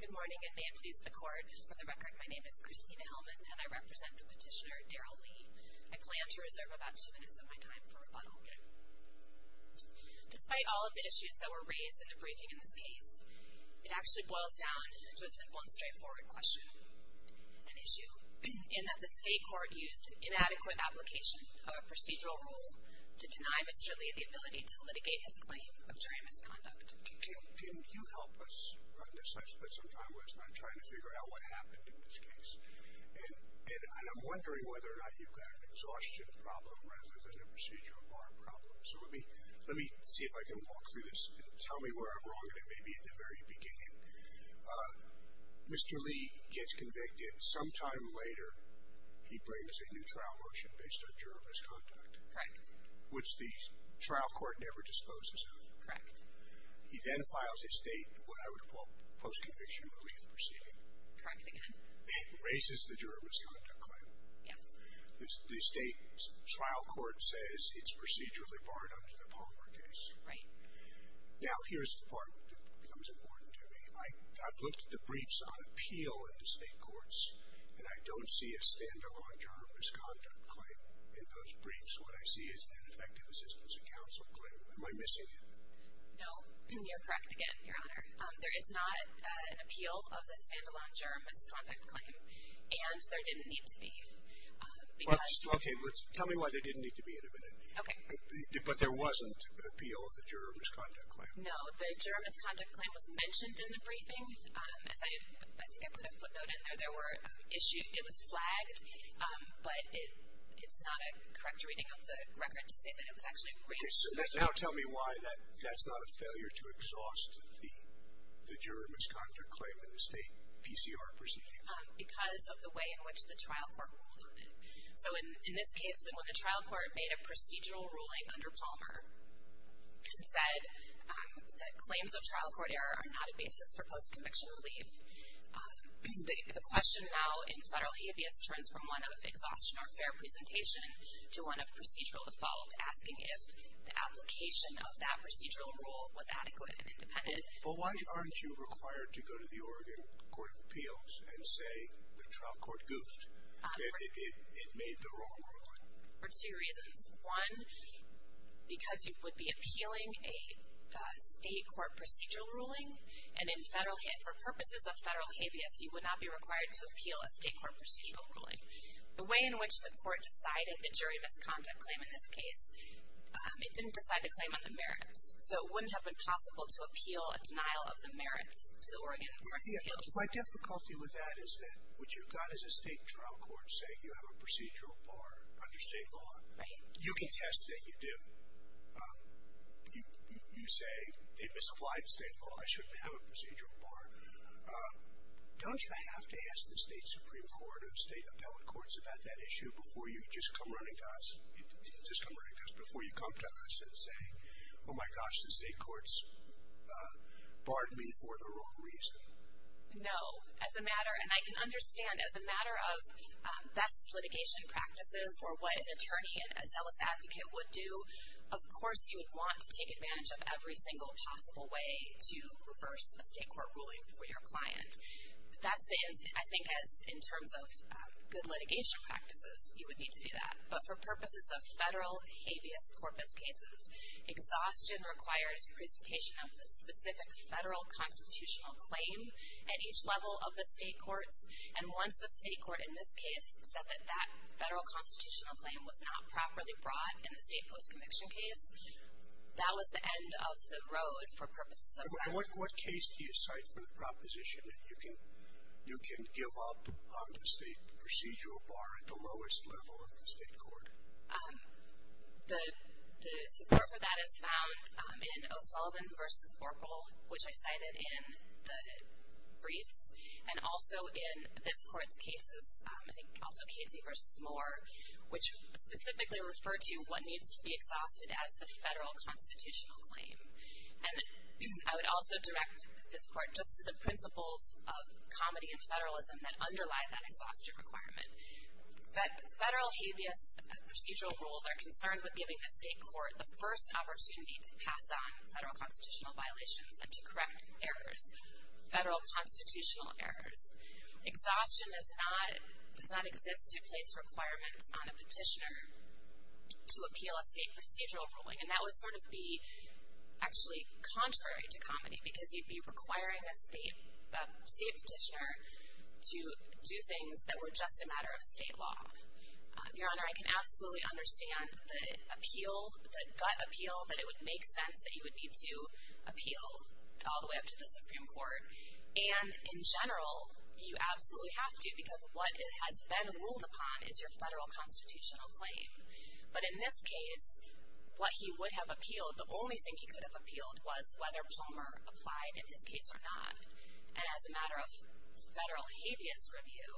Good morning, and may it please the Court, for the record, my name is Christina Hellman and I represent the petitioner, Derryel Lee. I plan to reserve about two minutes of my time for rebuttal. Despite all of the issues that were raised in the briefing in this case, it actually boils down to a simple and straightforward question. An issue in that the state court used an inadequate application of a procedural rule to deny Mr. Lee the ability to litigate his claim of jury misconduct. Can you help us on this? I spent some time last night trying to figure out what happened in this case. And I'm wondering whether or not you've got an exhaustion problem rather than a procedural bar problem. So let me see if I can walk through this and tell me where I'm wrong, and it may be at the very beginning. Mr. Lee gets convicted. Some time later, he brings a new trial motion based on jury misconduct. Correct. Which the trial court never disposes of. Correct. He then files a state what I would call post-conviction relief proceeding. Correct again. And raises the jury misconduct claim. Yes. The state trial court says it's procedurally barred under the Palmer case. Right. Now here's the part that becomes important to me. I've looked at the briefs on appeal in the state courts, and I don't see a stand-alone jury misconduct claim in those briefs. What I see is an ineffective assistance of counsel claim. Am I missing it? No. And you're correct again, Your Honor. There is not an appeal of the stand-alone jury misconduct claim, and there didn't need to be. Okay. Tell me why there didn't need to be in a minute. Okay. But there wasn't an appeal of the jury misconduct claim. No. The jury misconduct claim was mentioned in the briefing. As I think I put a footnote in there, there were issues. It was flagged, but it's not a correct reading of the record to say that it was actually framed. Okay. So now tell me why that's not a failure to exhaust the jury misconduct claim in a state PCR proceeding. Because of the way in which the trial court ruled on it. So in this case, when the trial court made a procedural ruling under Palmer and said that claims of trial court error are not a basis for post-conviction relief, the question now in federal habeas turns from one of exhaustion or fair presentation to one of procedural default, asking if the application of that procedural rule was adequate and independent. But why aren't you required to go to the Oregon Court of Appeals and say the trial court goofed, that it made the wrong ruling? For two reasons. One, because you would be appealing a state court procedural ruling, and for purposes of federal habeas, you would not be required to appeal a state court procedural ruling. The way in which the court decided the jury misconduct claim in this case, it didn't decide the claim on the merits. So it wouldn't have been possible to appeal a denial of the merits to the Oregon Court of Appeals. My difficulty with that is that what you've got is a state trial court saying you have a procedural bar under state law. Right. You can test that you do. You say they misapplied state law. I shouldn't have a procedural bar. Don't you have to ask the state Supreme Court or the state appellate courts about that issue before you just come running to us, just come running to us, before you come to us and say, oh, my gosh, the state courts barred me for the wrong reason? No. As a matter, and I can understand as a matter of best litigation practices or what an attorney and a zealous advocate would do, of course you would want to take advantage of every single possible way to reverse a state court ruling for your client. I think as in terms of good litigation practices, you would need to do that. But for purposes of federal habeas corpus cases, exhaustion requires presentation of the specific federal constitutional claim at each level of the state courts. And once the state court in this case said that that federal constitutional claim was not properly brought in the state post-conviction case, that was the end of the road for purposes of that. And what case do you cite for the proposition that you can give up on the state procedural bar at the lowest level of the state court? The support for that is found in O'Sullivan v. Orkle, which I cited in the briefs, and also in this court's cases, I think also Casey v. Moore, which specifically referred to what needs to be exhausted as the federal constitutional claim. And I would also direct this court just to the principles of comedy and federalism that underlie that exhaustion requirement. Federal habeas procedural rules are concerned with giving the state court the first opportunity to pass on federal constitutional violations and to correct errors, federal constitutional errors. Exhaustion does not exist to place requirements on a petitioner to appeal a state procedural ruling. And that would sort of be actually contrary to comedy, because you'd be requiring a state petitioner to do things that were just a matter of state law. Your Honor, I can absolutely understand the appeal, the gut appeal, that it would make sense that you would need to appeal all the way up to the Supreme Court. And in general, you absolutely have to, because what has been ruled upon is your federal constitutional claim. But in this case, what he would have appealed, the only thing he could have appealed, was whether Palmer applied in his case or not. And as a matter of federal habeas review,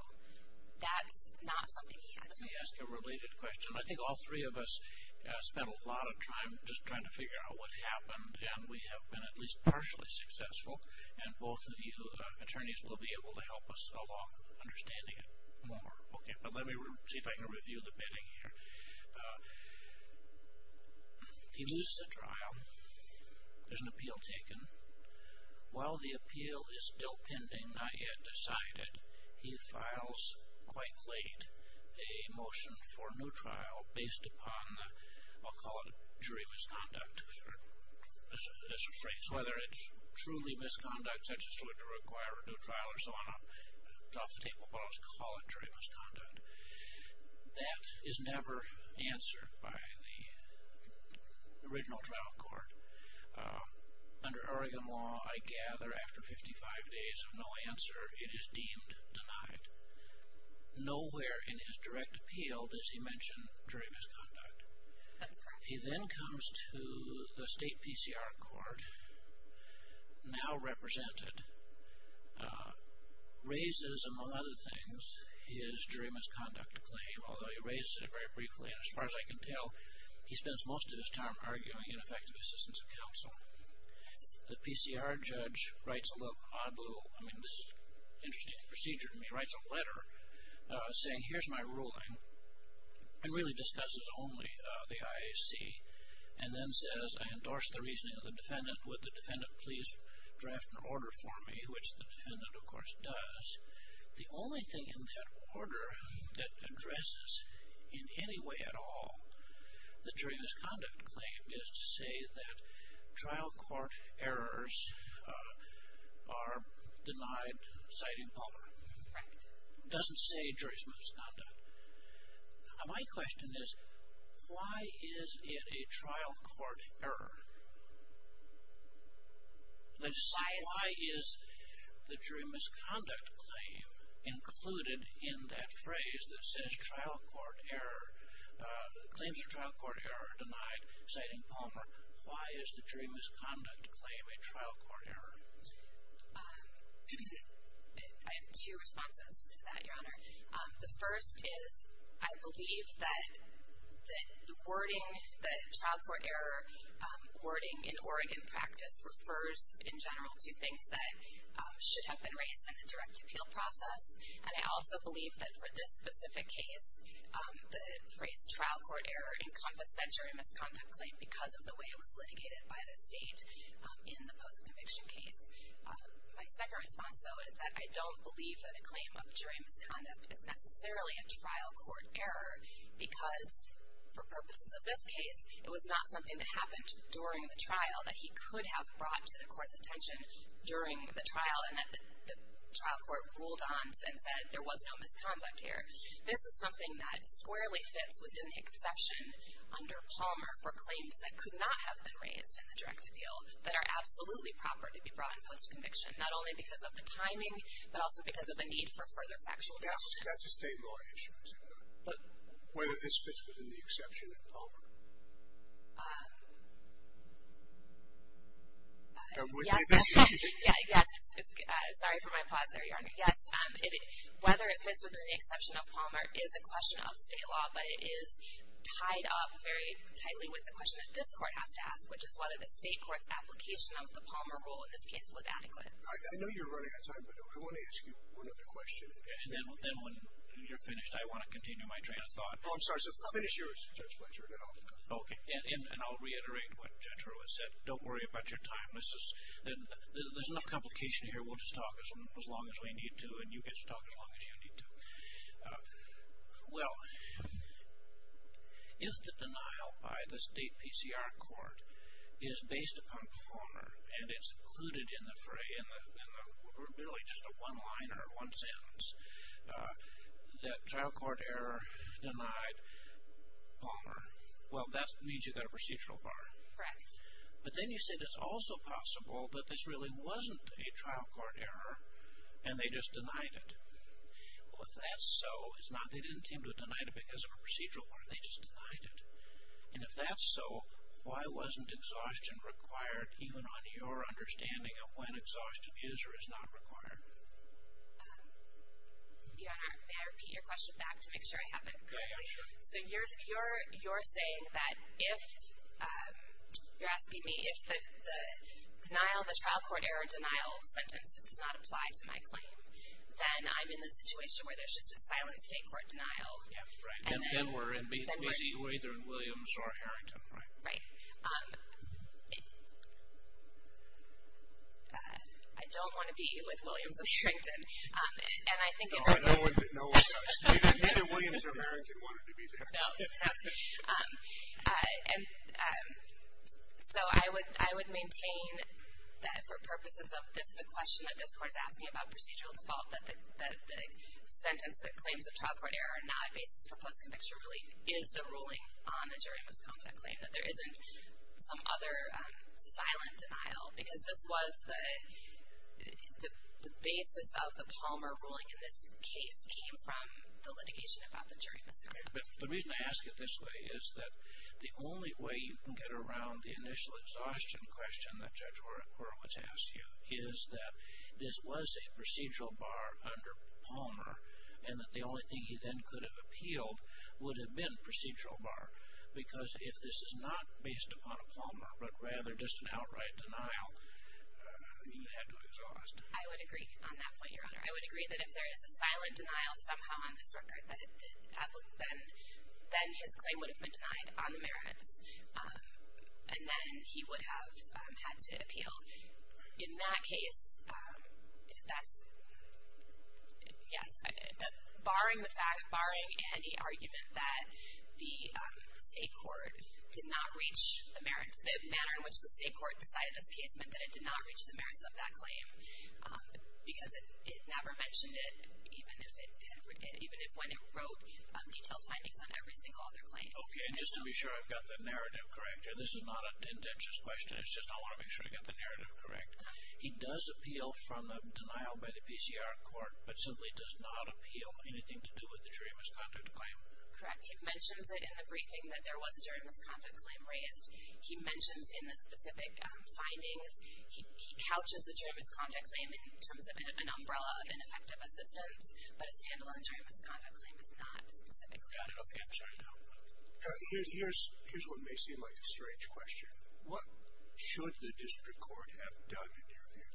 that's not something he had to appeal. Let me ask a related question. I think all three of us spent a lot of time just trying to figure out what happened, and we have been at least partially successful. And both of you attorneys will be able to help us along understanding it more. Okay, but let me see if I can review the bidding here. He loses the trial. There's an appeal taken. While the appeal is still pending, not yet decided, he files, quite late, a motion for a new trial based upon the, I'll call it jury misconduct, as a phrase, whether it's truly misconduct, such as to require a new trial or so on. It's off the table, but I'll just call it jury misconduct. That is never answered by the original trial court. Under Oregon law, I gather, after 55 days of no answer, it is deemed denied. Nowhere in his direct appeal does he mention jury misconduct. He then comes to the state PCR court, now represented, raises, among other things, his jury misconduct claim, although he raises it very briefly, and as far as I can tell, he spends most of his time arguing in effective assistance of counsel. The PCR judge writes a letter, I mean, this is an interesting procedure to me, writes a letter saying, here's my ruling, and really discusses only the IAC, and then says, I endorse the reasoning of the defendant, would the defendant please draft an order for me, which the defendant, of course, does. The only thing in that order that addresses in any way at all the jury misconduct claim is to say that trial court errors are denied citing power. It doesn't say jury misconduct. My question is, why is it a trial court error? Let's see, why is the jury misconduct claim included in that phrase that says trial court error, claims for trial court error are denied citing Palmer? Why is the jury misconduct claim a trial court error? The first is, I believe that the wording, the trial court error wording in Oregon practice refers in general to things that should have been raised in the direct appeal process, and I also believe that for this specific case, the phrase trial court error encompassed that jury misconduct claim because of the way it was litigated by the state in the post-conviction case. My second response, though, is that I don't believe that a claim of jury misconduct is necessarily a trial court error because for purposes of this case, it was not something that happened during the trial that he could have brought to the court's attention during the trial and that the trial court ruled on and said there was no misconduct here. This is something that squarely fits within the exception under Palmer for claims that could not have been raised in the direct appeal that are absolutely proper to be brought in post-conviction, not only because of the timing, but also because of the need for further factual discussion. Yes, that's a state law issue, isn't it? But whether this fits within the exception of Palmer? Yes, sorry for my pause there, Your Honor. Yes, whether it fits within the exception of Palmer is a question of state law, but it is tied up very tightly with the question that this court has to ask, which is whether the state court's application of the Palmer rule in this case was adequate. I know you're running out of time, but I want to ask you one other question. And then when you're finished, I want to continue my train of thought. Oh, I'm sorry, so finish yours, Judge Fletcher, and then I'll finish. Okay, and I'll reiterate what Judge Rowe has said. Don't worry about your time. There's enough complication here. We'll just talk as long as we need to, and you get to talk as long as you need to. Well, if the denial by the state PCR court is based upon Palmer and it's included in the free, in literally just a one-liner, one sentence, that trial court error denied Palmer, well, that means you've got a procedural bar. Correct. But then you say it's also possible that this really wasn't a trial court error and they just denied it. Well, if that's so, they didn't seem to have denied it because of a procedural bar. They just denied it. And if that's so, why wasn't exhaustion required, even on your understanding of when exhaustion is or is not required? Your Honor, may I repeat your question back to make sure I have it? Go ahead, sure. So you're saying that if, you're asking me, if the denial, the trial court error denial sentence does not apply to my claim, then I'm in the situation where there's just a silent state court denial. Then we're either in Williams or Harrington, right? Right. I don't want to be with Williams or Harrington. No one does. Neither Williams nor Harrington wanted to be there. No. So I would maintain that for purposes of this, the question that this Court is asking about procedural default, that the sentence that claims of trial court error are not a basis for post-conviction relief, is the ruling on the jury misconduct claim, that there isn't some other silent denial. Because this was the basis of the Palmer ruling in this case, came from the litigation about the jury misconduct claim. The reason I ask it this way is that the only way you can get around the initial exhaustion question that Judge Horowitz asked you is that this was a procedural bar under Palmer and that the only thing he then could have appealed would have been procedural bar. Because if this is not based upon a Palmer, but rather just an outright denial, you had to exhaust. I would agree on that point, Your Honor. I would agree that if there is a silent denial somehow on this record, then his claim would have been denied on the merits. And then he would have had to appeal. In that case, if that's, yes. But barring the fact, barring any argument that the state court did not reach the merits, the manner in which the state court decided this case meant that it did not reach the merits of that claim. Because it never mentioned it, even if when it wrote detailed findings on every single other claim. Okay. And just to be sure I've got the narrative correct. This is not an intentious question. It's just I want to make sure I've got the narrative correct. He does appeal from a denial by the PCR court, but simply does not appeal anything to do with the jury misconduct claim. Correct. He mentions it in the briefing that there was a jury misconduct claim raised. He mentions in the specific findings. He couches the jury misconduct claim in terms of an umbrella of ineffective assistance. But a stand-alone jury misconduct claim is not a specific claim. Here's what may seem like a strange question. What should the district court have done in your view?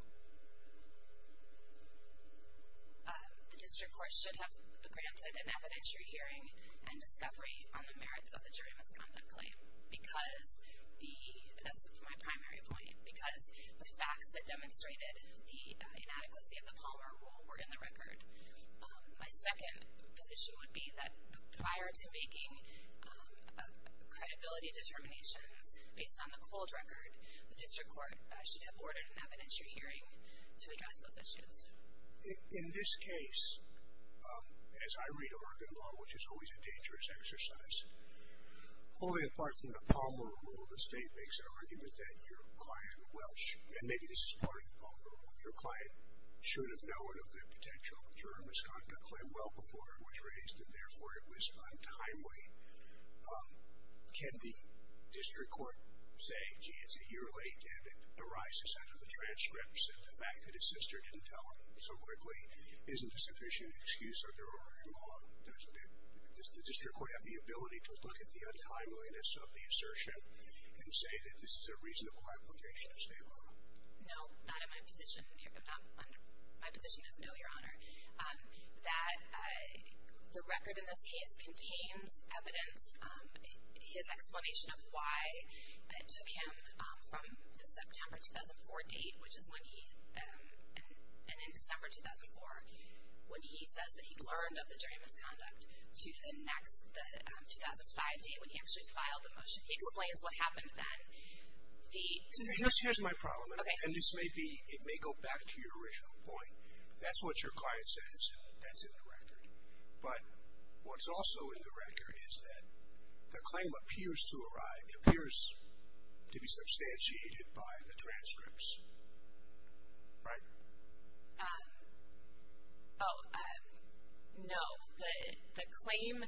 The district court should have granted an evidentiary hearing and discovery on the merits of the jury misconduct claim. Because the, that's my primary point, because the facts that demonstrated the inadequacy of the Palmer rule were in the record. My second position would be that prior to making credibility determinations, based on the cold record, the district court should have ordered an evidentiary hearing to address those issues. In this case, as I read Oregon law, which is always a dangerous exercise, only apart from the Palmer rule, the state makes an argument that your client, Welsh, and maybe this is part of the Palmer rule, your client should have known of the potential jury misconduct claim well before it was raised, and therefore it was untimely. Can the district court say, gee, it's a year late, and it arises out of the transcripts, and the fact that his sister didn't tell him so quickly isn't a sufficient excuse under Oregon law? Does the district court have the ability to look at the untimeliness of the assertion and say that this is a reasonable obligation of state law? No, not in my position. My position is no, Your Honor. That the record in this case contains evidence, his explanation of why it took him from the September 2004 date, which is when he, and in December 2004, when he says that he learned of the jury misconduct, to the next, the 2005 date when he actually filed the motion. He explains what happened then. Here's my problem, and this may go back to your original point. If that's what your client says, that's in the record. But what's also in the record is that the claim appears to arrive, it appears to be substantiated by the transcripts. Right? Oh, no. The claim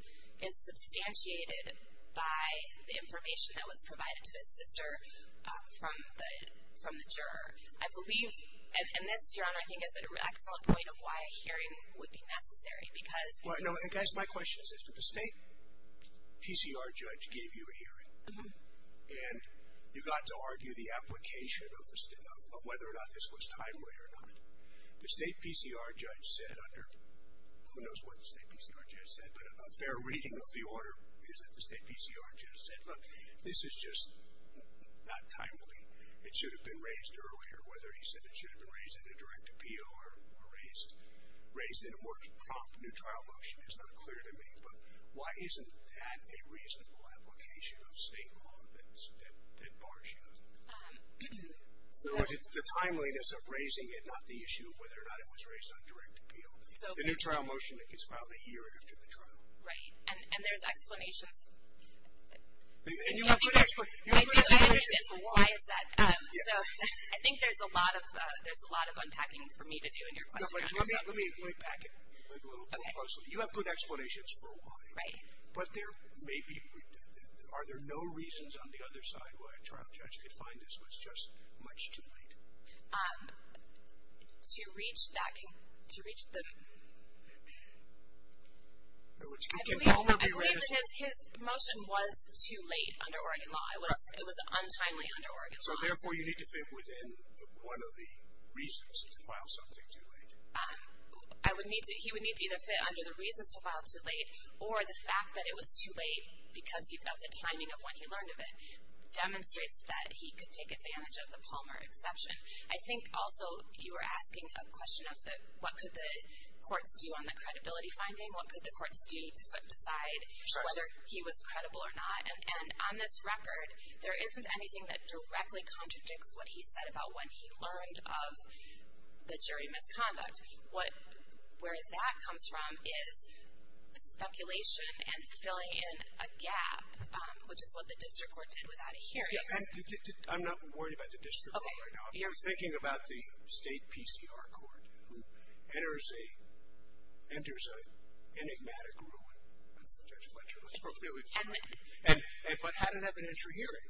is substantiated by the information that was provided to his sister from the juror. I believe, and this, Your Honor, I think is an excellent point of why a hearing would be necessary because Well, no, and guys, my question is this. And you got to argue the application of whether or not this was timely or not. The state PCR judge said under, who knows what the state PCR judge said, but a fair reading of the order is that the state PCR judge said, look, this is just not timely. It should have been raised earlier. Whether he said it should have been raised in a direct appeal or raised in a more prompt, neutral motion is not clear to me. But why isn't that a reasonable application of state law that bars you? In other words, it's the timeliness of raising it, not the issue of whether or not it was raised on direct appeal. The neutral motion is filed a year after the trial. Right. And there's explanations. And you have good explanations for why. I do. I understand why is that. So I think there's a lot of unpacking for me to do in your question, Your Honor. Let me back it a little more closely. Okay. You have good explanations for why. Right. But there may be, are there no reasons on the other side why a trial judge could find this was just much too late? To reach that, to reach the, I believe that his motion was too late under Oregon law. It was untimely under Oregon law. So, therefore, you need to fit within one of the reasons to file something too late. He would need to either fit under the reasons to file too late, or the fact that it was too late because of the timing of when he learned of it, demonstrates that he could take advantage of the Palmer exception. I think, also, you were asking a question of what could the courts do on the credibility finding, what could the courts do to decide whether he was credible or not. And on this record, there isn't anything that directly contradicts what he said about when he learned of the jury misconduct. What, where that comes from is speculation and filling in a gap, which is what the district court did without a hearing. Yeah, and I'm not worried about the district court right now. I'm thinking about the state PCR court who enters a enigmatic ruling on Judge Fletcher. But how did it have an intra-hearing?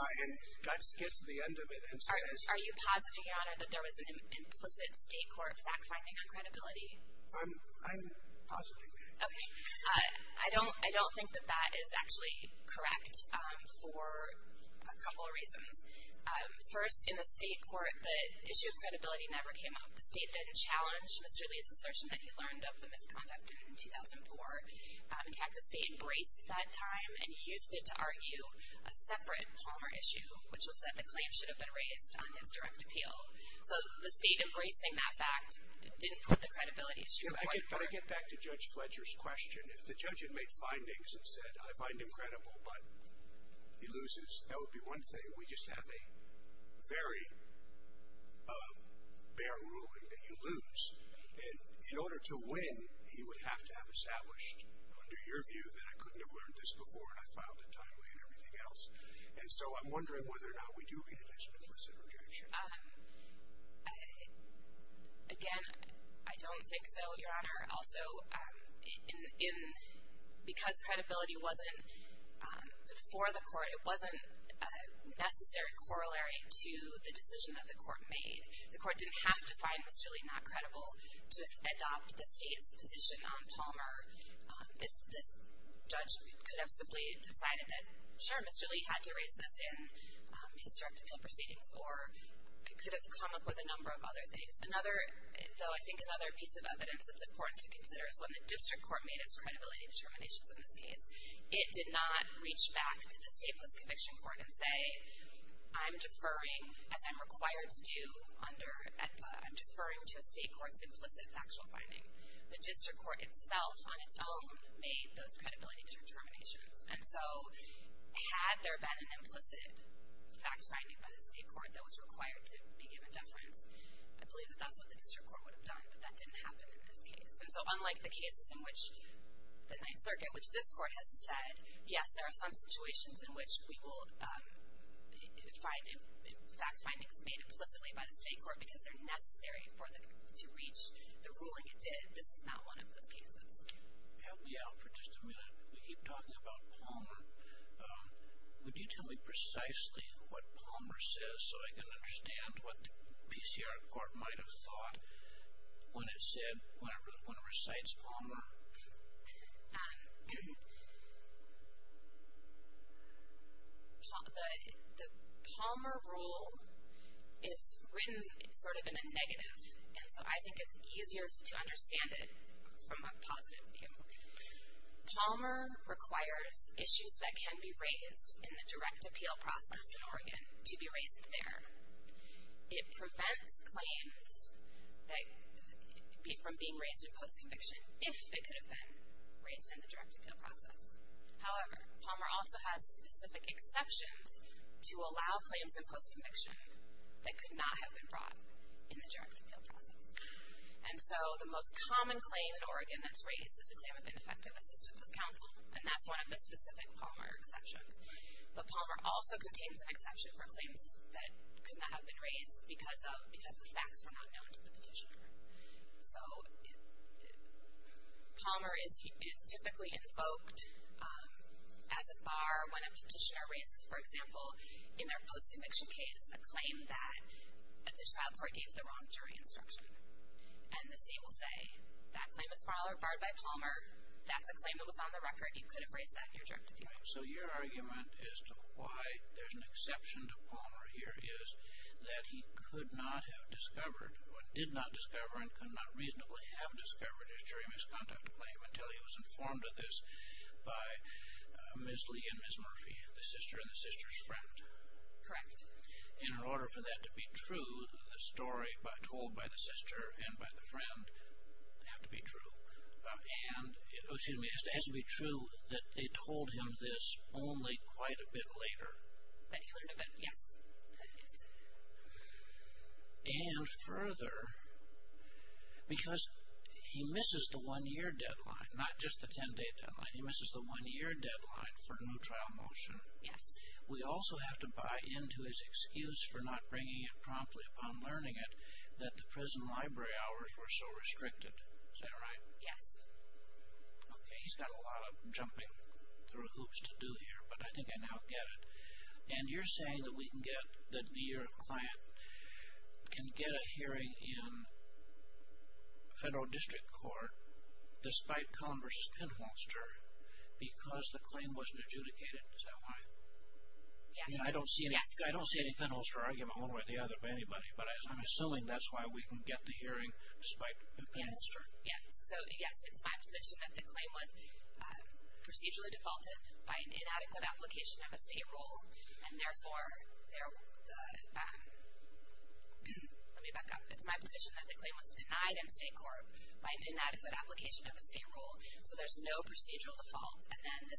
And that gets to the end of it. Are you positing, Your Honor, that there was an implicit state court fact-finding on credibility? I'm positing that. Okay. I don't think that that is actually correct for a couple of reasons. First, in the state court, the issue of credibility never came up. The state didn't challenge Mr. Lee's assertion that he learned of the misconduct in 2004. In fact, the state braced that time and used it to argue a separate Palmer issue, which was that the claim should have been raised on his direct appeal. So the state embracing that fact didn't put the credibility issue in front of court. But I get back to Judge Fletcher's question. If the judge had made findings and said, I find him credible, but he loses, that would be one thing. We just have a very bare ruling that you lose. And in order to win, he would have to have established, under your view, that I couldn't have learned this before and I filed it timely and everything else. And so I'm wondering whether or not we do realize an implicit rejection. Again, I don't think so, Your Honor. Also, because credibility wasn't before the court, it wasn't a necessary corollary to the decision that the court made. The court didn't have to find Mr. Lee not credible to adopt the state's position on Palmer. This judge could have simply decided that, sure, Mr. Lee had to raise this in his direct appeal proceedings, or it could have come up with a number of other things. Though I think another piece of evidence that's important to consider is when the district court made its credibility determinations in this case, it did not reach back to the stateless conviction court and say, I'm deferring, as I'm required to do, I'm deferring to a state court's implicit factual finding. The district court itself, on its own, made those credibility determinations. And so had there been an implicit fact-finding by the state court that was required to be given deference, I believe that that's what the district court would have done, but that didn't happen in this case. And so unlike the cases in which the Ninth Circuit, which this court has said, yes, there are some situations in which we will find fact-findings made implicitly by the state court because they're necessary to reach the ruling it did. This is not one of those cases. Help me out for just a minute. We keep talking about Palmer. Would you tell me precisely what Palmer says so I can understand what the PCR court might have thought when it said, when it recites Palmer? The Palmer rule is written sort of in a negative, and so I think it's easier to understand it from a positive view. Palmer requires issues that can be raised in the direct appeal process in Oregon to be raised there. It prevents claims from being raised in post-conviction if they could have been raised in the direct appeal process. However, Palmer also has specific exceptions to allow claims in post-conviction that could not have been brought in the direct appeal process. And so the most common claim in Oregon that's raised is a claim of ineffective assistance of counsel, and that's one of the specific Palmer exceptions. But Palmer also contains an exception for claims that could not have been raised because the facts were not known to the petitioner. So Palmer is typically invoked as a bar when a petitioner raises, for example, in their post-conviction case, a claim that the trial court gave the wrong jury instruction. And the state will say, that claim is barred by Palmer. That's a claim that was on the record. You could have raised that in your direct appeal. So your argument as to why there's an exception to Palmer here is that he could not have discovered or did not discover and could not reasonably have discovered his jury misconduct claim until he was informed of this by Ms. Lee and Ms. Murphy, the sister and the sister's friend. Correct. In order for that to be true, the story told by the sister and by the friend have to be true. And it has to be true that they told him this only quite a bit later. That he learned of it, yes. And further, because he misses the one-year deadline, not just the ten-day deadline. He misses the one-year deadline for no trial motion. Yes. We also have to buy into his excuse for not bringing it promptly upon learning it that the prison library hours were so restricted. Is that right? Yes. Okay, he's got a lot of jumping through hoops to do here, but I think I now get it. And you're saying that we can get, that your client can get a hearing in federal district court despite Cullen v. Penholster because the claim wasn't adjudicated. Is that right? Yes. I don't see any Penholster argument one way or the other by anybody. But I'm assuming that's why we can get the hearing despite Penholster. Yes. So, yes, it's my position that the claim was procedurally defaulted by an inadequate application of a state rule. And therefore, there, let me back up. It's my position that the claim was denied in state court by an inadequate application of a state rule. So there's no procedural default. And then the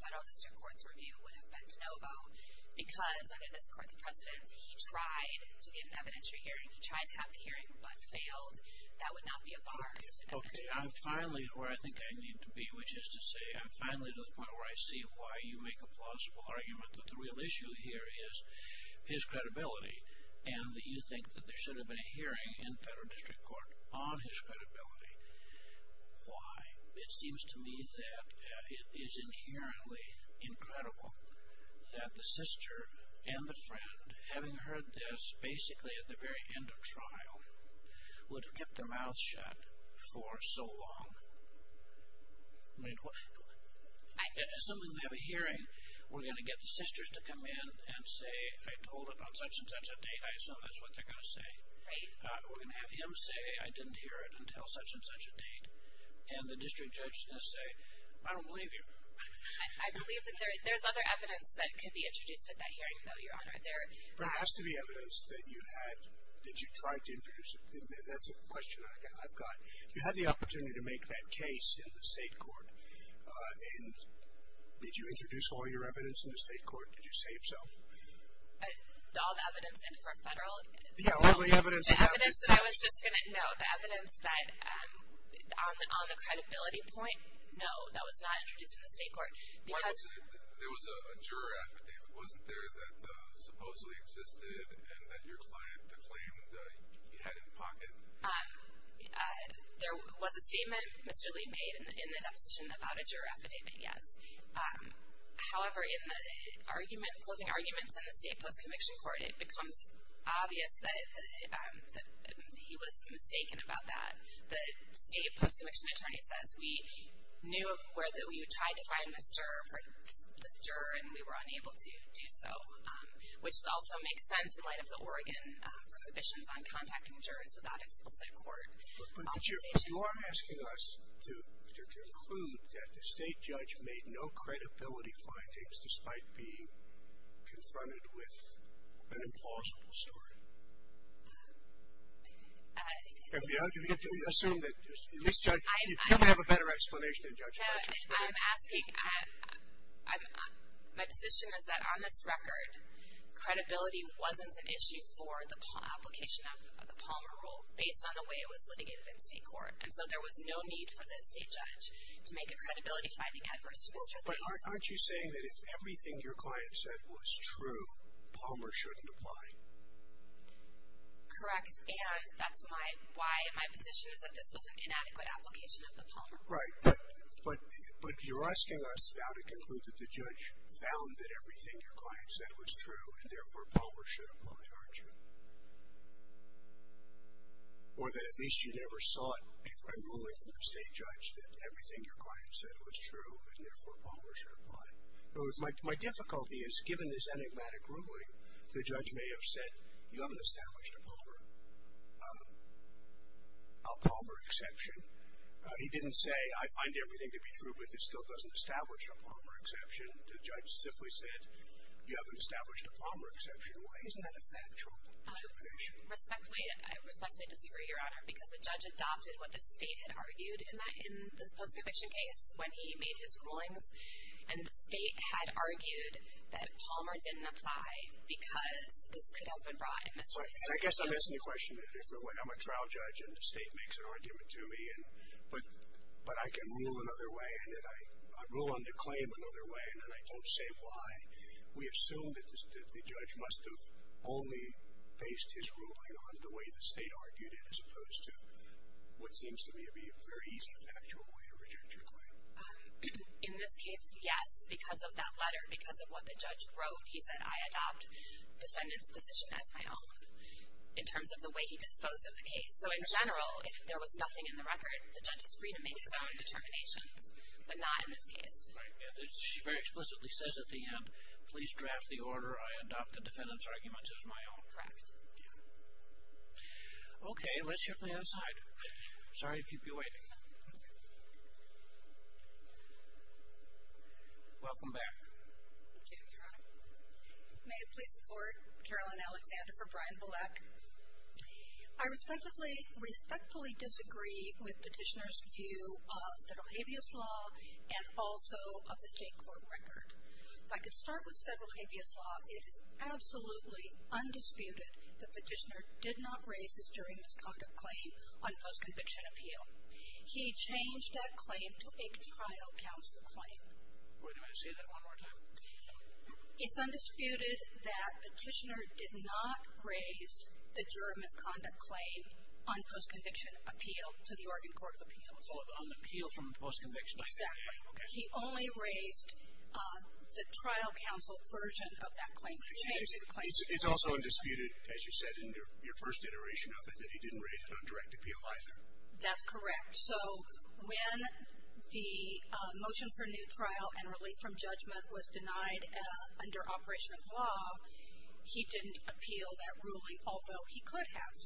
federal district court's review would have been de novo because under this court's precedence, he tried to get an evidentiary hearing. He tried to have the hearing but failed. That would not be a bar. Okay, I'm finally where I think I need to be, which is to say I'm finally to the point where I see why you make a plausible argument that the real issue here is his credibility and that you think that there should have been a hearing in federal district court on his credibility. Why? It seems to me that it is inherently incredible that the sister and the friend, having heard this basically at the very end of trial, would have kept their mouth shut for so long. I mean, what should we do? Assuming we have a hearing, we're going to get the sisters to come in and say, I told it on such and such a date. I assume that's what they're going to say. We're going to have him say, I didn't hear it until such and such a date. And the district judge is going to say, I don't believe you. I believe that there's other evidence that could be introduced at that hearing, though, Your Honor. But it has to be evidence that you had, that you tried to introduce. That's a question I've got. You had the opportunity to make that case in the state court, and did you introduce all your evidence in the state court? Did you save some? All the evidence in for federal? Yeah, all the evidence. No, the evidence that on the credibility point, no, that was not introduced in the state court. There was a juror affidavit, wasn't there, that supposedly existed and that your client declaimed you had in pocket? There was a statement Mr. Lee made in the deposition about a juror affidavit, yes. However, in the closing arguments in the state post-conviction court, it becomes obvious that he was mistaken about that. The state post-conviction attorney says, we knew where you tried to find this juror and we were unable to do so, which also makes sense in light of the Oregon prohibitions on contacting jurors without explicit court authorization. But you are asking us to conclude that the state judge made no credibility findings despite being confronted with an implausible story. And we assume that you misjudged. You probably have a better explanation than judge. I'm asking, my position is that on this record, credibility wasn't an issue for the application of the Palmer Rule based on the way it was litigated in state court. And so there was no need for the state judge to make a credibility finding adverse to Mr. Lee. But aren't you saying that if everything your client said was true, Palmer shouldn't apply? Correct. And that's why my position is that this was an inadequate application of the Palmer Rule. Right. But you're asking us now to conclude that the judge found that everything your client said was true and therefore Palmer should apply, aren't you? Or that at least you never sought a ruling from the state judge that everything your client said was true and therefore Palmer should apply. In other words, my difficulty is, given this enigmatic ruling, the judge may have said, you haven't established a Palmer exception. He didn't say, I find everything to be true, but it still doesn't establish a Palmer exception. The judge simply said, you haven't established a Palmer exception. Why isn't that a factual determination? I respectfully disagree, Your Honor, because the judge adopted what the state had argued in the post-conviction case when he made his rulings, and the state had argued that Palmer didn't apply because this could have been brought in Mr. Lee's favor. I guess I'm asking the question in a different way. I'm a trial judge and the state makes an argument to me, but I can rule another way and I rule on the claim another way and then I don't say why. We assume that the judge must have only based his ruling on the way the state argued it as opposed to what seems to me to be a very easy factual way to reject your claim. In this case, yes, because of that letter, because of what the judge wrote. He said, I adopt defendant's position as my own in terms of the way he disposed of the case. So in general, if there was nothing in the record, the judge is free to make his own determinations, but not in this case. She very explicitly says at the end, please draft the order, I adopt the defendant's arguments as my own. Correct. Okay, let's hear from the other side. Sorry to keep you waiting. Welcome back. Thank you, Your Honor. May I please support Caroline Alexander for Brian Bilek? I respectfully disagree with petitioner's view of federal habeas law and also of the state court record. If I could start with federal habeas law, it is absolutely undisputed that petitioner did not raise his jury misconduct claim on post-conviction appeal. He changed that claim to a trial counsel claim. Wait a minute, say that one more time. It's undisputed that petitioner did not raise the jury misconduct claim on post-conviction appeal to the Oregon Court of Appeals. On the appeal from post-conviction. Exactly. He only raised the trial counsel version of that claim. He changed the claim. It's also undisputed, as you said in your first iteration of it, that he didn't raise it on direct appeal either. That's correct. So when the motion for new trial and relief from judgment was denied under operation of law, he didn't appeal that ruling, although he could have,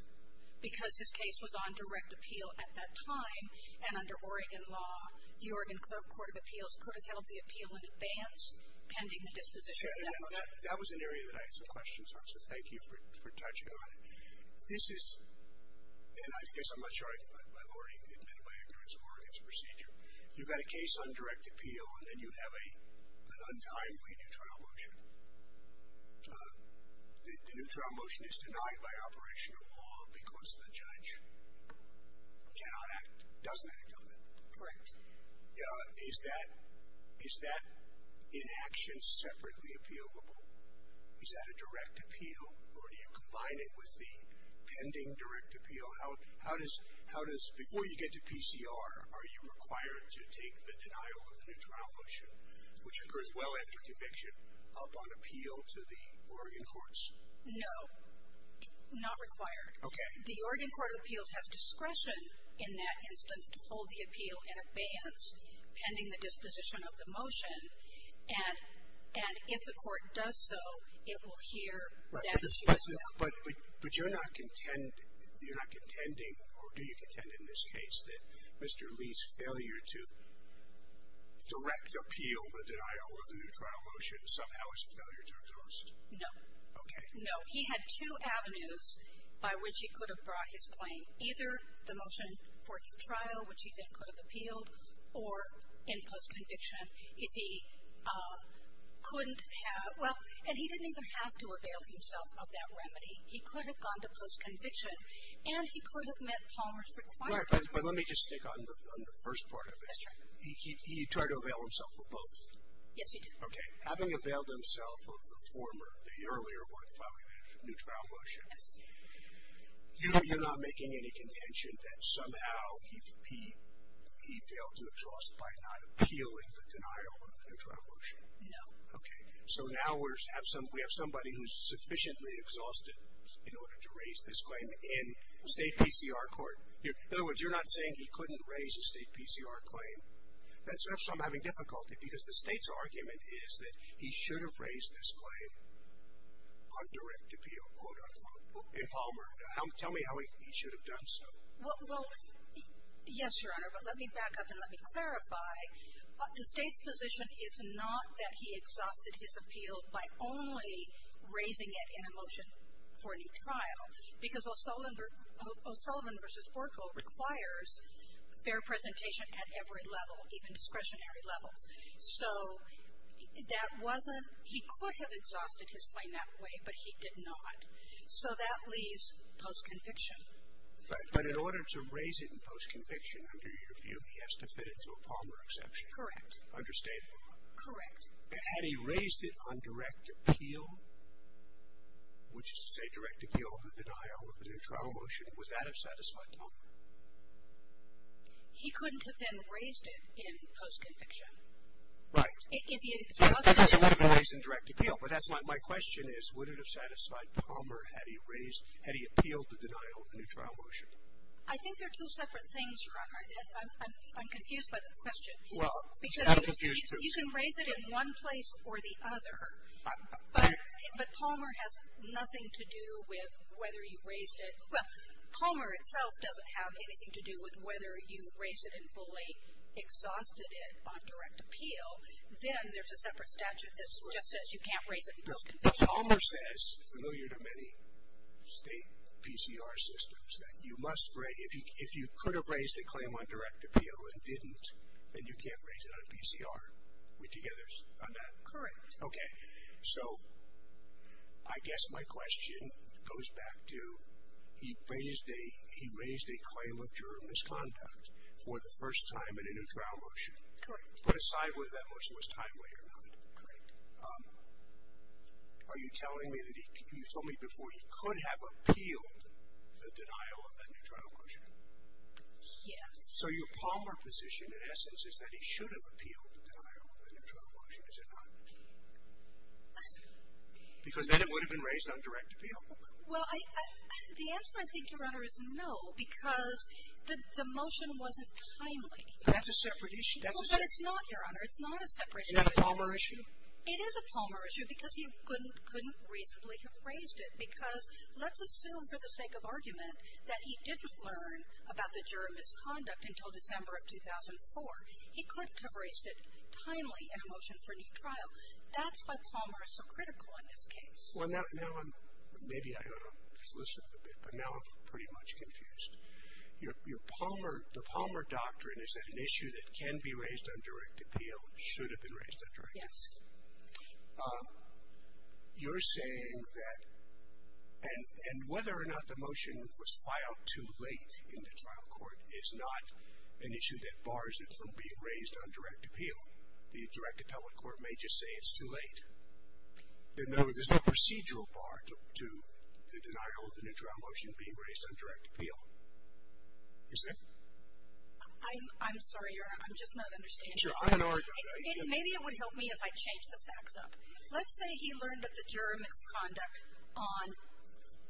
because his case was on direct appeal at that time, and under Oregon law, the Oregon Court of Appeals could have held the appeal in advance, pending the disposition of that motion. That was an area that I had some questions on, so thank you for touching on it. This is, and I guess I'm not sure I've already admitted my ignorance of Oregon's procedure. You've got a case on direct appeal, and then you have an untimely new trial motion. The new trial motion is denied by operation of law because the judge cannot act, doesn't act on it. Correct. Is that in action separately appealable? Is that a direct appeal, or do you combine it with the pending direct appeal? How does, before you get to PCR, are you required to take the denial of the new trial motion, which occurs well after conviction, up on appeal to the Oregon courts? No. Not required. Okay. The Oregon Court of Appeals has discretion in that instance to hold the appeal in advance, pending the disposition of the motion, and if the court does so, it will hear that you have failed. But you're not contending, or do you contend in this case, that Mr. Lee's failure to direct appeal the denial of the new trial motion somehow is a failure to exhaust? No. Okay. No. He had two avenues by which he could have brought his claim. Either the motion for trial, which he then could have appealed, or in post-conviction, if he couldn't have, well, and he didn't even have to avail himself of that remedy. He could have gone to post-conviction, and he could have met Palmer's requirements. But let me just stick on the first part of it. That's right. He tried to avail himself of both. Yes, he did. Okay. Having availed himself of the former, the earlier one, filing the new trial motion, you're not making any contention that somehow he failed to exhaust by not appealing the denial of the new trial motion? No. Okay. So now we have somebody who's sufficiently exhausted in order to raise this claim in state PCR court. In other words, you're not saying he couldn't raise a state PCR claim. That's why I'm having difficulty because the state's argument is that he should have raised this claim on direct appeal, quote, unquote, in Palmer. Tell me how he should have done so. Well, yes, Your Honor, but let me back up and let me clarify. The state's position is not that he exhausted his appeal by only raising it in a motion for a new trial because O'Sullivan v. Orkle requires fair presentation at every level, even discretionary levels. So that wasn't he could have exhausted his claim that way, but he did not. So that leaves post-conviction. But in order to raise it in post-conviction under your view, he has to fit it to a Palmer exception. Correct. Under state law. Correct. Had he raised it on direct appeal, which is to say direct appeal of the denial of the new trial motion, would that have satisfied Palmer? He couldn't have then raised it in post-conviction. Right. I guess it would have been raised in direct appeal, but that's my question is, would it have satisfied Palmer had he appealed the denial of the new trial motion? I think they're two separate things, Your Honor. I'm confused by the question. Well, he's not a confused person. You can raise it in one place or the other, but Palmer has nothing to do with whether you raised it. Well, Palmer itself doesn't have anything to do with whether you raised it and fully exhausted it on direct appeal. Then there's a separate statute that just says you can't raise it in post-conviction. Palmer says, familiar to many state PCR systems, that you must raise, if you could have raised a claim on direct appeal and didn't, then you can't raise it on a PCR. We're together on that? Correct. Okay. So I guess my question goes back to he raised a claim of juror misconduct for the first time in a new trial motion. Correct. Put aside whether that motion was timely or not. Correct. Are you telling me that you told me before he could have appealed the denial of that new trial motion? Yes. So your Palmer position, in essence, is that he should have appealed the denial of that new trial motion, is it not? Because then it would have been raised on direct appeal. Well, the answer, I think, Your Honor, is no because the motion wasn't timely. That's a separate issue. That's a separate issue. But it's not, Your Honor. It's not a separate issue. Is that a Palmer issue? It is a Palmer issue because he couldn't reasonably have raised it because let's assume for the sake of argument that he didn't learn about the juror misconduct until December of 2004. He couldn't have raised it timely in a motion for a new trial. That's why Palmer is so critical in this case. Well, now I'm, maybe I ought to listen a bit, but now I'm pretty much confused. Your Palmer, the Palmer doctrine is that an issue that can be raised on direct appeal should have been raised on direct appeal. Yes. You're saying that, and whether or not the motion was filed too late in the trial court is not an issue that bars it from being raised on direct appeal. The direct appellate court may just say it's too late. In other words, there's no procedural part to the denial of the new trial motion being raised on direct appeal. You see? I'm sorry, Your Honor. I'm just not understanding. Sure. I'm an argumenter. Maybe it would help me if I change the facts up. Let's say he learned of the juror misconduct on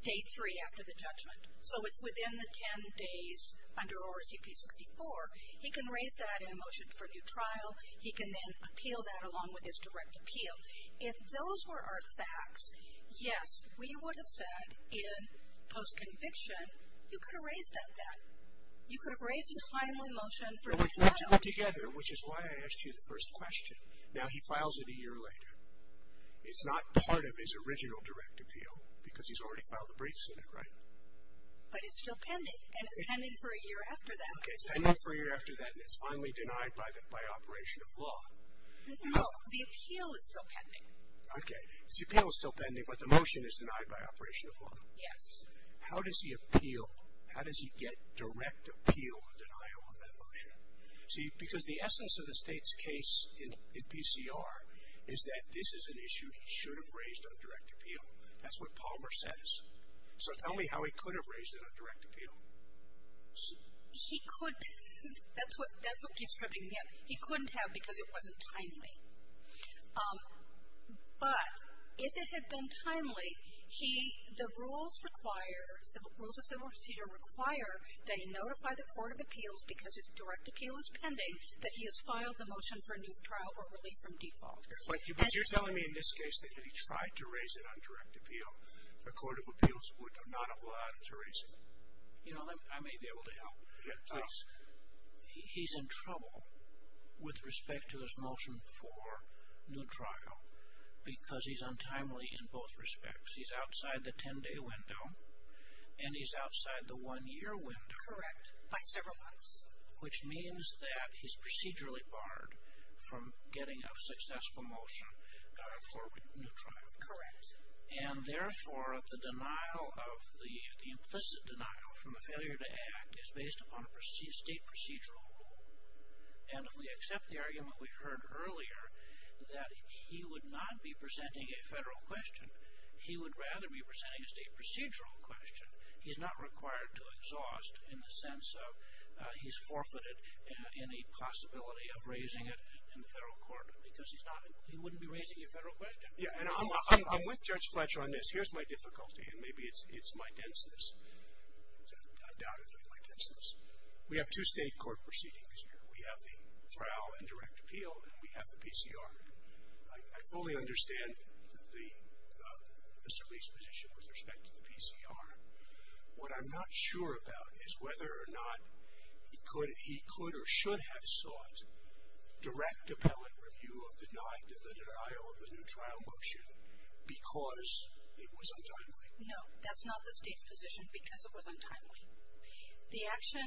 day three after the judgment. So it's within the ten days under ORCP 64. He can raise that in a motion for a new trial. He can then appeal that along with his direct appeal. If those were our facts, yes, we would have said in post-conviction, you could have raised that then. You could have raised a timely motion for a new trial. But we put it together, which is why I asked you the first question. Now, he files it a year later. It's not part of his original direct appeal because he's already filed the briefs in it, right? But it's still pending, and it's pending for a year after that. Okay, it's pending for a year after that, and it's finally denied by operation of law. No, the appeal is still pending. Okay. The appeal is still pending, but the motion is denied by operation of law. Yes. How does he appeal? How does he get direct appeal or denial of that motion? See, because the essence of the state's case in BCR is that this is an issue he should have raised on direct appeal. That's what Palmer says. So tell me how he could have raised it on direct appeal. He could. That's what keeps tripping me up. He couldn't have because it wasn't timely. But if it had been timely, the rules of civil procedure require that he notify the court of appeals because his direct appeal is pending that he has filed the motion for a new trial or relief from default. But you're telling me in this case that if he tried to raise it on direct appeal, the court of appeals would not have allowed him to raise it? You know, I may be able to help. Please. He's in trouble with respect to his motion for new trial because he's untimely in both respects. He's outside the 10-day window, and he's outside the one-year window. Correct, by several months. Which means that he's procedurally barred from getting a successful motion for a new trial. Correct. And, therefore, the denial of the implicit denial from the failure to act is based upon a state procedural rule. And if we accept the argument we heard earlier that he would not be presenting a federal question, he would rather be presenting a state procedural question. He's not required to exhaust in the sense of he's forfeited any possibility of raising it in the federal court because he wouldn't be raising a federal question. Yeah, and I'm with Judge Fletcher on this. Here's my difficulty, and maybe it's my denseness. I doubt it's my denseness. We have two state court proceedings here. We have the trial and direct appeal, and we have the PCR. I fully understand Mr. Lee's position with respect to the PCR. What I'm not sure about is whether or not he could or should have sought direct appellate review of the denial of the new trial motion because it was untimely. No, that's not the State's position, because it was untimely. The action,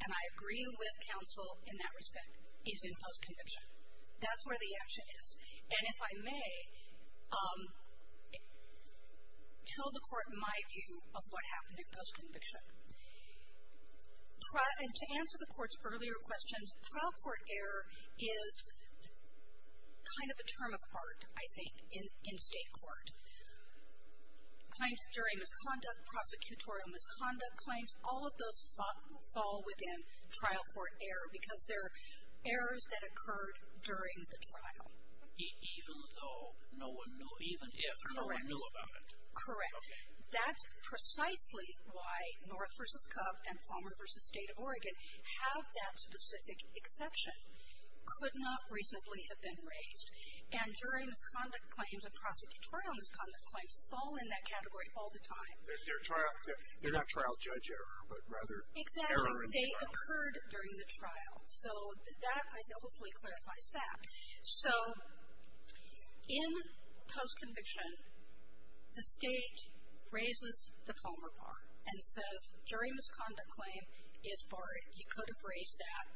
and I agree with counsel in that respect, is in post-conviction. That's where the action is. And if I may, tell the Court my view of what happened in post-conviction. To answer the Court's earlier questions, trial court error is kind of a term of art, I think, in state court. Claims during misconduct, prosecutorial misconduct, claims, all of those fall within trial court error because they're errors that occurred during the trial. Even though no one knew, even if no one knew about it? Correct. Okay. That's precisely why North v. Cub and Plummer v. State of Oregon have that specific exception. Could not reasonably have been raised. And jury misconduct claims and prosecutorial misconduct claims fall in that category all the time. They're not trial judge error, but rather error in trial court. Exactly. They occurred during the trial. So that hopefully clarifies that. So in post-conviction, the State raises the Plummer bar and says, jury misconduct claim is barred. You could have raised that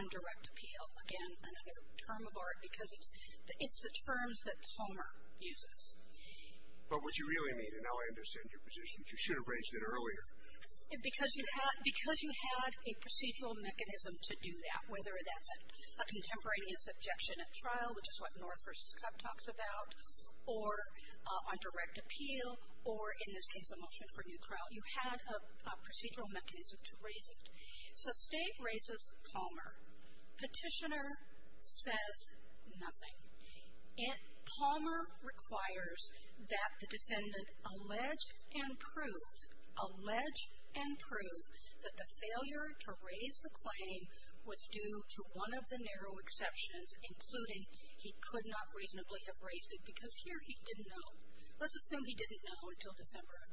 on direct appeal. Again, another term of art because it's the terms that Plummer uses. But what you really mean, and how I understand your position, is you should have raised it earlier. Because you had a procedural mechanism to do that, whether that's a contemporaneous objection at trial, which is what North v. Cub talks about, or on direct appeal, or in this case a motion for new trial. You had a procedural mechanism to raise it. So State raises Plummer. Petitioner says nothing. Plummer requires that the defendant allege and prove, allege and prove, that the failure to raise the claim was due to one of the narrow exceptions, including he could not reasonably have raised it because here he didn't know. Let's assume he didn't know until December of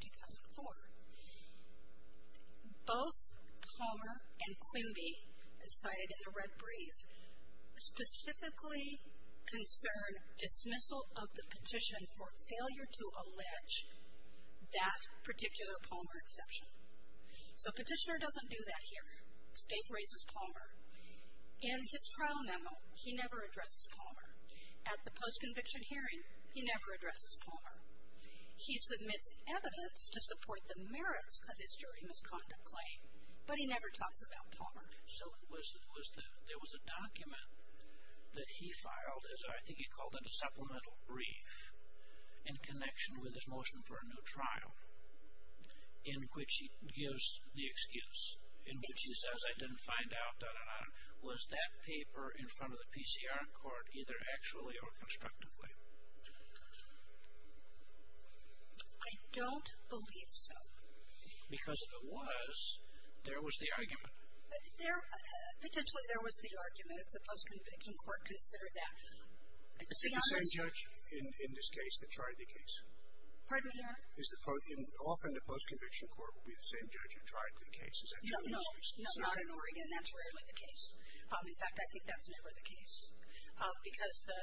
2004. Both Plummer and Quimby, as cited in the red brief, specifically concern dismissal of the petition for failure to allege that particular Plummer exception. So Petitioner doesn't do that here. State raises Plummer. In his trial memo, he never addressed Plummer. At the post-conviction hearing, he never addressed Plummer. He submits evidence to support the merits of his jury misconduct claim, but he never talks about Plummer. So there was a document that he filed, I think he called it a supplemental brief, in connection with his motion for a new trial, in which he gives the excuse, in which he says I didn't find out, da-da-da, was that paper in front of the PCR court either actually or constructively? I don't believe so. Because if it was, there was the argument. Potentially there was the argument if the post-conviction court considered that. Is it the same judge in this case that tried the case? Pardon me, Your Honor? Often the post-conviction court will be the same judge who tried the case. Is that true in this case? No, not in Oregon. That's rarely the case. In fact, I think that's never the case. Because the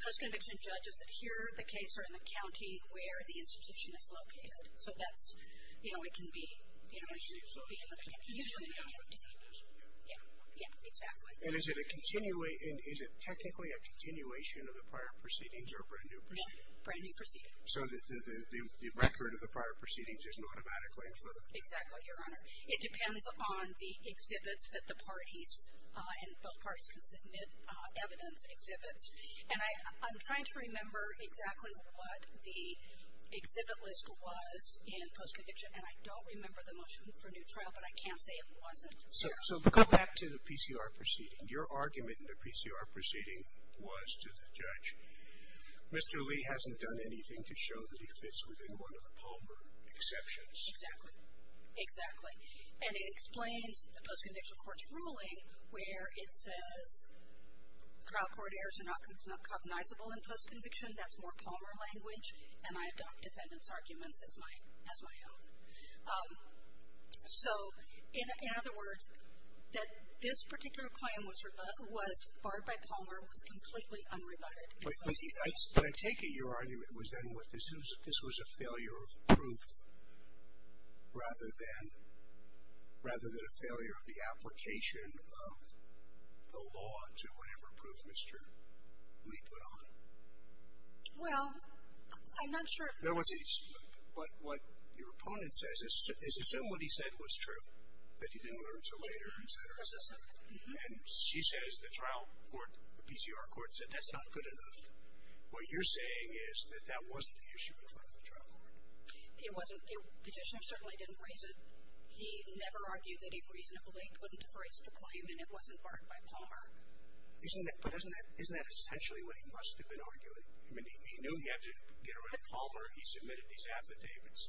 post-conviction judges that hear the case are in the county where the institution is located. So that's, you know, it can be, you know, usually in the county. Yeah, yeah, exactly. And is it technically a continuation of the prior proceedings or a brand-new proceeding? Brand-new proceeding. So the record of the prior proceedings isn't automatically included? Exactly, Your Honor. It depends upon the exhibits that the parties, and both parties can submit evidence exhibits. And I'm trying to remember exactly what the exhibit list was in post-conviction, and I don't remember the motion for new trial, but I can't say it wasn't. So go back to the PCR proceeding. Your argument in the PCR proceeding was to the judge, Mr. Lee hasn't done anything to show that he fits within one of the Palmer exceptions. Exactly. Exactly. And it explains the post-conviction court's ruling where it says trial court errors are not cognizable in post-conviction. That's more Palmer language, and I adopt defendants' arguments as my own. So in other words, that this particular claim was barred by Palmer, was completely unrebutted. But I take it your argument was then this was a failure of proof rather than a failure of the application of the law to whatever proof Mr. Lee put on. Well, I'm not sure. No, but what your opponent says is assume what he said was true, that he didn't learn until later, et cetera, et cetera. And she says the trial court, the PCR court said that's not good enough. What you're saying is that that wasn't the issue in front of the trial court. It wasn't. The judge certainly didn't raise it. He never argued that he reasonably couldn't have raised the claim and it wasn't barred by Palmer. But isn't that essentially what he must have been arguing? I mean, he knew he had to get rid of Palmer. He submitted these affidavits.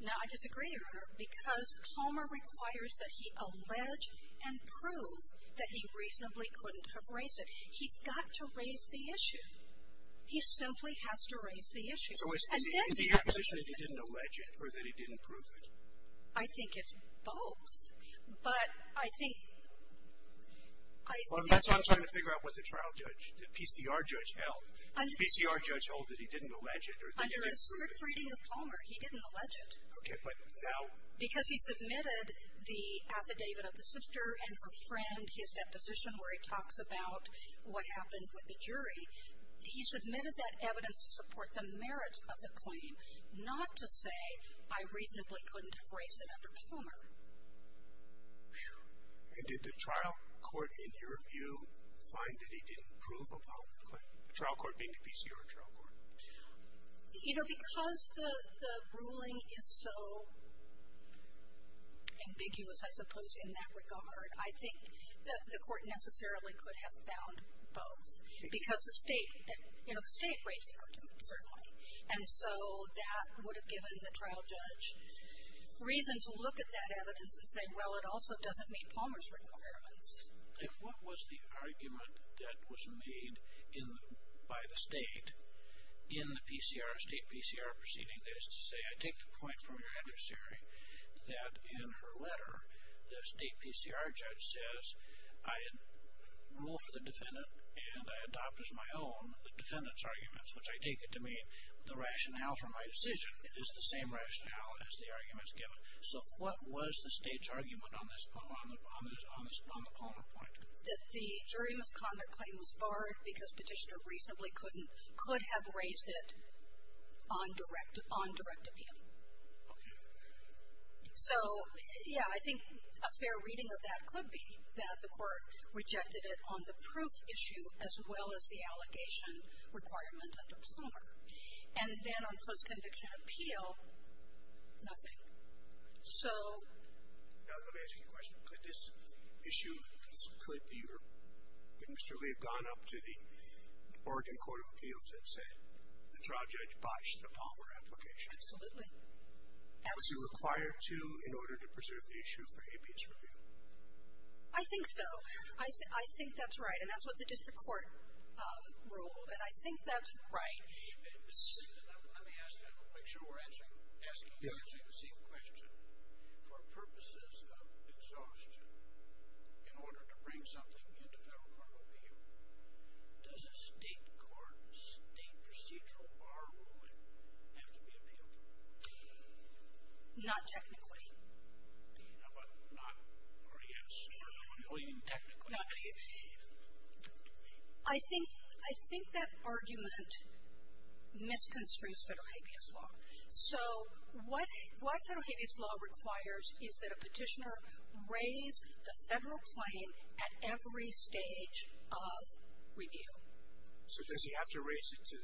Now, I disagree, Your Honor, because Palmer requires that he allege and prove that he reasonably couldn't have raised it. He's got to raise the issue. He simply has to raise the issue. So is he in a position that he didn't allege it or that he didn't prove it? I think it's both. But I think that's what I'm trying to figure out with the trial judge, the PCR judge held. The PCR judge held that he didn't allege it or that he didn't prove it. Under the third reading of Palmer, he didn't allege it. Okay, but now. Because he submitted the affidavit of the sister and her friend, his deposition where he talks about what happened with the jury. He submitted that evidence to support the merits of the claim, not to say I reasonably couldn't have raised it under Palmer. And did the trial court, in your view, find that he didn't prove about the claim? The trial court being the PCR trial court. You know, because the ruling is so ambiguous, I suppose, in that regard, I think the court necessarily could have found both. Because the state raised the argument, certainly. And so that would have given the trial judge reason to look at that evidence and say, well, it also doesn't meet Palmer's requirements. And what was the argument that was made by the state in the state PCR proceeding? That is to say, I take the point from your adversary that in her letter, the state PCR judge says I rule for the defendant and I adopt as my own the defendant's arguments, which I take it to mean the rationale for my decision is the same rationale as the argument is given. So what was the state's argument on the Palmer point? That the jury misconduct claim was barred because Petitioner reasonably couldn't could have raised it on direct appeal. Okay. So, yeah, I think a fair reading of that could be that the court rejected it on the proof issue as well as the allegation requirement under Palmer. And then on post-conviction appeal, nothing. So... Now, let me ask you a question. Could this issue, could you or could Mr. Lee have gone up to the Oregon Court of Appeals and said the trial judge bashed the Palmer application? Absolutely. Was he required to in order to preserve the issue for APS review? I think so. I think that's right. And that's what the district court ruled. And I think that's right. Let me ask, make sure we're answering the same question. For purposes of exhaustion, in order to bring something into federal court of appeal, does a state court, state procedural bar ruling have to be appealed? Not technically. How about not RES or no appeal even technically? I think that argument misconstrues federal Habeas Law. So what federal Habeas Law requires is that a petitioner raise the federal claim at every stage of review. So does he have to raise it to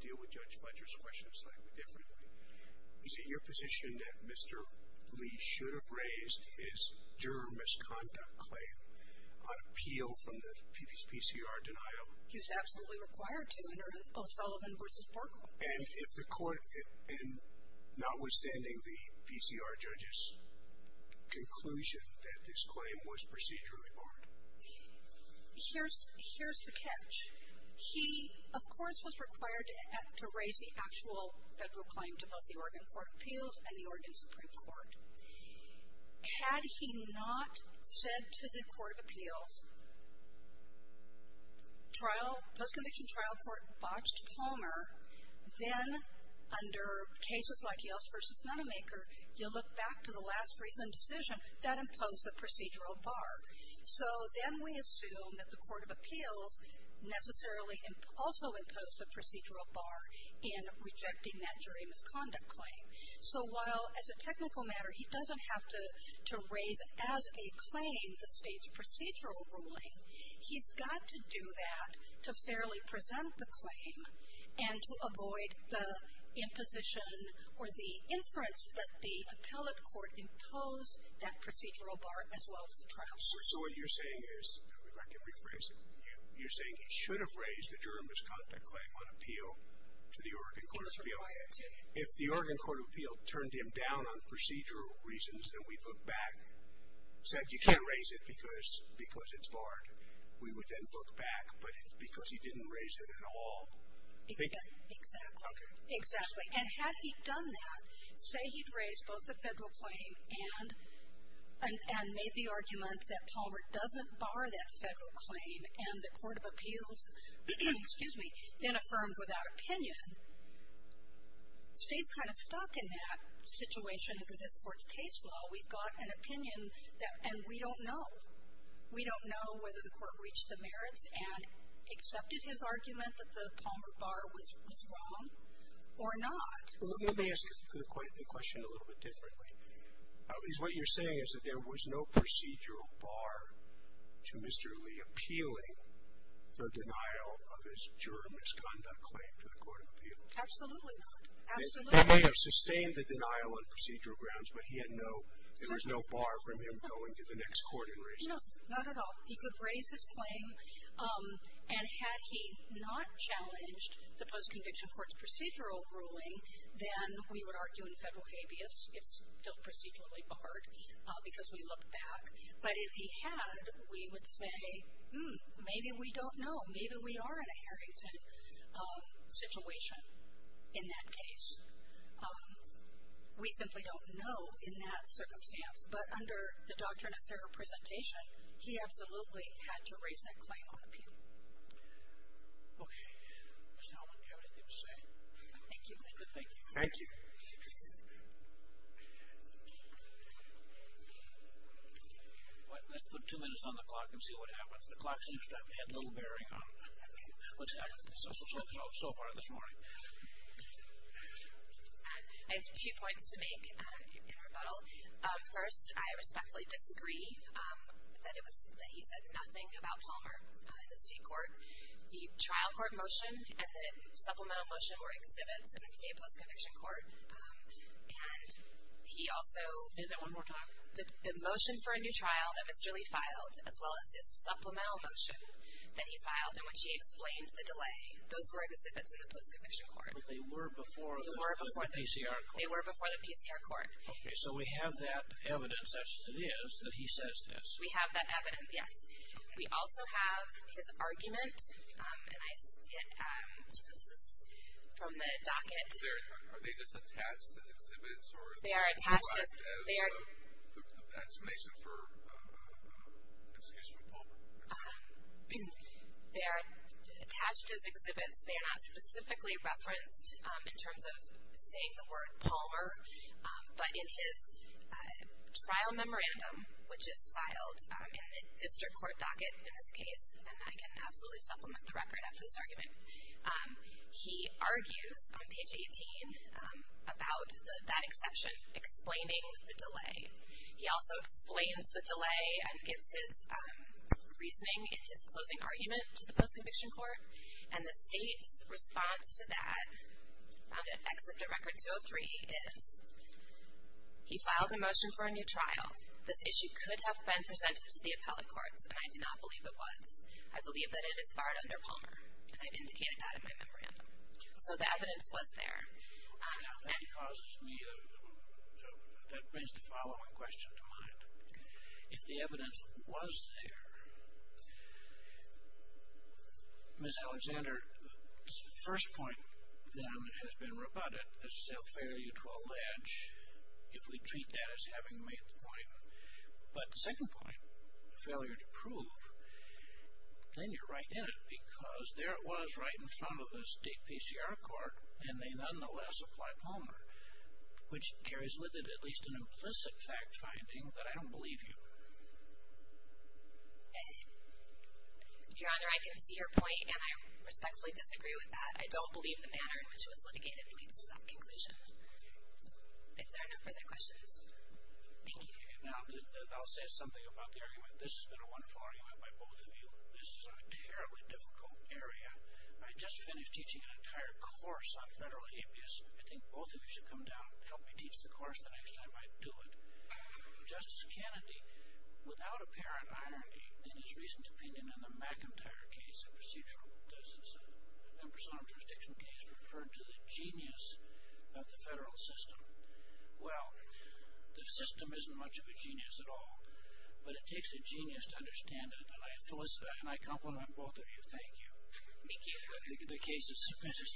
deal with Judge Fletcher's question slightly differently? Is it your position that Mr. Lee should have raised his juror misconduct claim on appeal from the PCR denial? He was absolutely required to under both Sullivan v. Parker. And if the court, and notwithstanding the PCR judge's conclusion that this claim was procedurally barred. Here's the catch. He, of course, was required to raise the actual federal claim to both the Oregon Court of Appeals and the Oregon Supreme Court. Had he not said to the court of appeals, trial, post-conviction trial court botched Palmer, then under cases like Yeltsin v. Mennemaker, you look back to the last reason decision, that imposed a procedural bar. So then we assume that the court of appeals necessarily also imposed a procedural bar in rejecting that jury misconduct claim. So while as a technical matter, he doesn't have to raise as a claim the state's procedural ruling, and to avoid the imposition or the inference that the appellate court imposed that procedural bar as well as the trial court. So what you're saying is, if I can rephrase it, you're saying he should have raised the juror misconduct claim on appeal to the Oregon Court of Appeals. He was required to. If the Oregon Court of Appeals turned him down on procedural reasons and we looked back, said you can't raise it because it's barred, we would then look back, but because he didn't raise it at all. Exactly. Exactly. And had he done that, say he'd raised both the federal claim and made the argument that Palmer doesn't bar that federal claim, and the court of appeals then affirmed without opinion, the state's kind of stuck in that situation under this court's case law. We've got an opinion, and we don't know. We don't know whether the court reached the merits and accepted his argument that the Palmer bar was wrong or not. Let me ask the question a little bit differently. What you're saying is that there was no procedural bar to Mr. Lee appealing the denial of his juror misconduct claim to the court of appeals. Absolutely not. Absolutely not. They may have sustained the denial on procedural grounds, but there was no bar from him going to the next court and raising it. No, not at all. He could raise his claim, and had he not challenged the post-conviction court's procedural ruling, then we would argue in federal habeas it's still procedurally barred because we looked back. But if he had, we would say, hmm, maybe we don't know. Maybe we are in a Harrington situation in that case. We simply don't know in that circumstance. But under the doctrine of thorough presentation, he absolutely had to raise that claim on appeal. Okay. Ms. Hellman, do you have anything to say? Thank you. Thank you. Thank you. Let's put two minutes on the clock and see what happens. The clock seems to have had little bearing on what's happened so far this morning. I have two points to make in rebuttal. First, I respectfully disagree that he said nothing about Palmer in the state court. The trial court motion and the supplemental motion were exhibits in the state post-conviction court, and he also the motion for a new trial that Mr. Lee filed, as well as his supplemental motion that he filed, and when she explained the delay, those were exhibits in the post-conviction court. But they were before the PCR court. They were before the PCR court. Okay. So we have that evidence, as it is, that he says this. We have that evidence, yes. We also have his argument, and I see it. This is from the docket. Are they just attached as exhibits? They are attached as exhibits. Or are they derived as an explanation for an excuse from Palmer? They are attached as exhibits. They are not specifically referenced in terms of saying the word Palmer, but in his trial memorandum, which is filed in the district court docket in this case, and I can absolutely supplement the record after this argument, he argues on page 18 about that exception explaining the delay. He also explains the delay and gives his reasoning in his closing argument to the post-conviction court, and the state's response to that, found in Exhibit Record 203, is he filed a motion for a new trial. This issue could have been presented to the appellate courts, and I do not believe it was. I believe that it is barred under Palmer, and I've indicated that in my memorandum. So the evidence was there. Now, that causes me a question. That brings the following question to mind. If the evidence was there, Ms. Alexander's first point, then, has been rebutted as self-failure to a ledge, if we treat that as having made the point. But the second point, the failure to prove, then you're right in it, because there it was right in front of the state PCR court, and they nonetheless apply Palmer, which carries with it at least an implicit fact-finding that I don't believe you. Your Honor, I can see your point, and I respectfully disagree with that. I don't believe the manner in which it was litigated leads to that conclusion. If there are no further questions, thank you. Now, I'll say something about the argument. This has been a wonderful argument by both of you. This is a terribly difficult area. I just finished teaching an entire course on federal habeas. I think both of you should come down and help me teach the course the next time I do it. Justice Kennedy, without apparent irony, in his recent opinion in the McIntyre case, a procedural justice and personal jurisdiction case, referred to the genius of the federal system. Well, the system isn't much of a genius at all, but it takes a genius to understand it, and I compliment both of you. Thank you. Thank you. The case is submitted.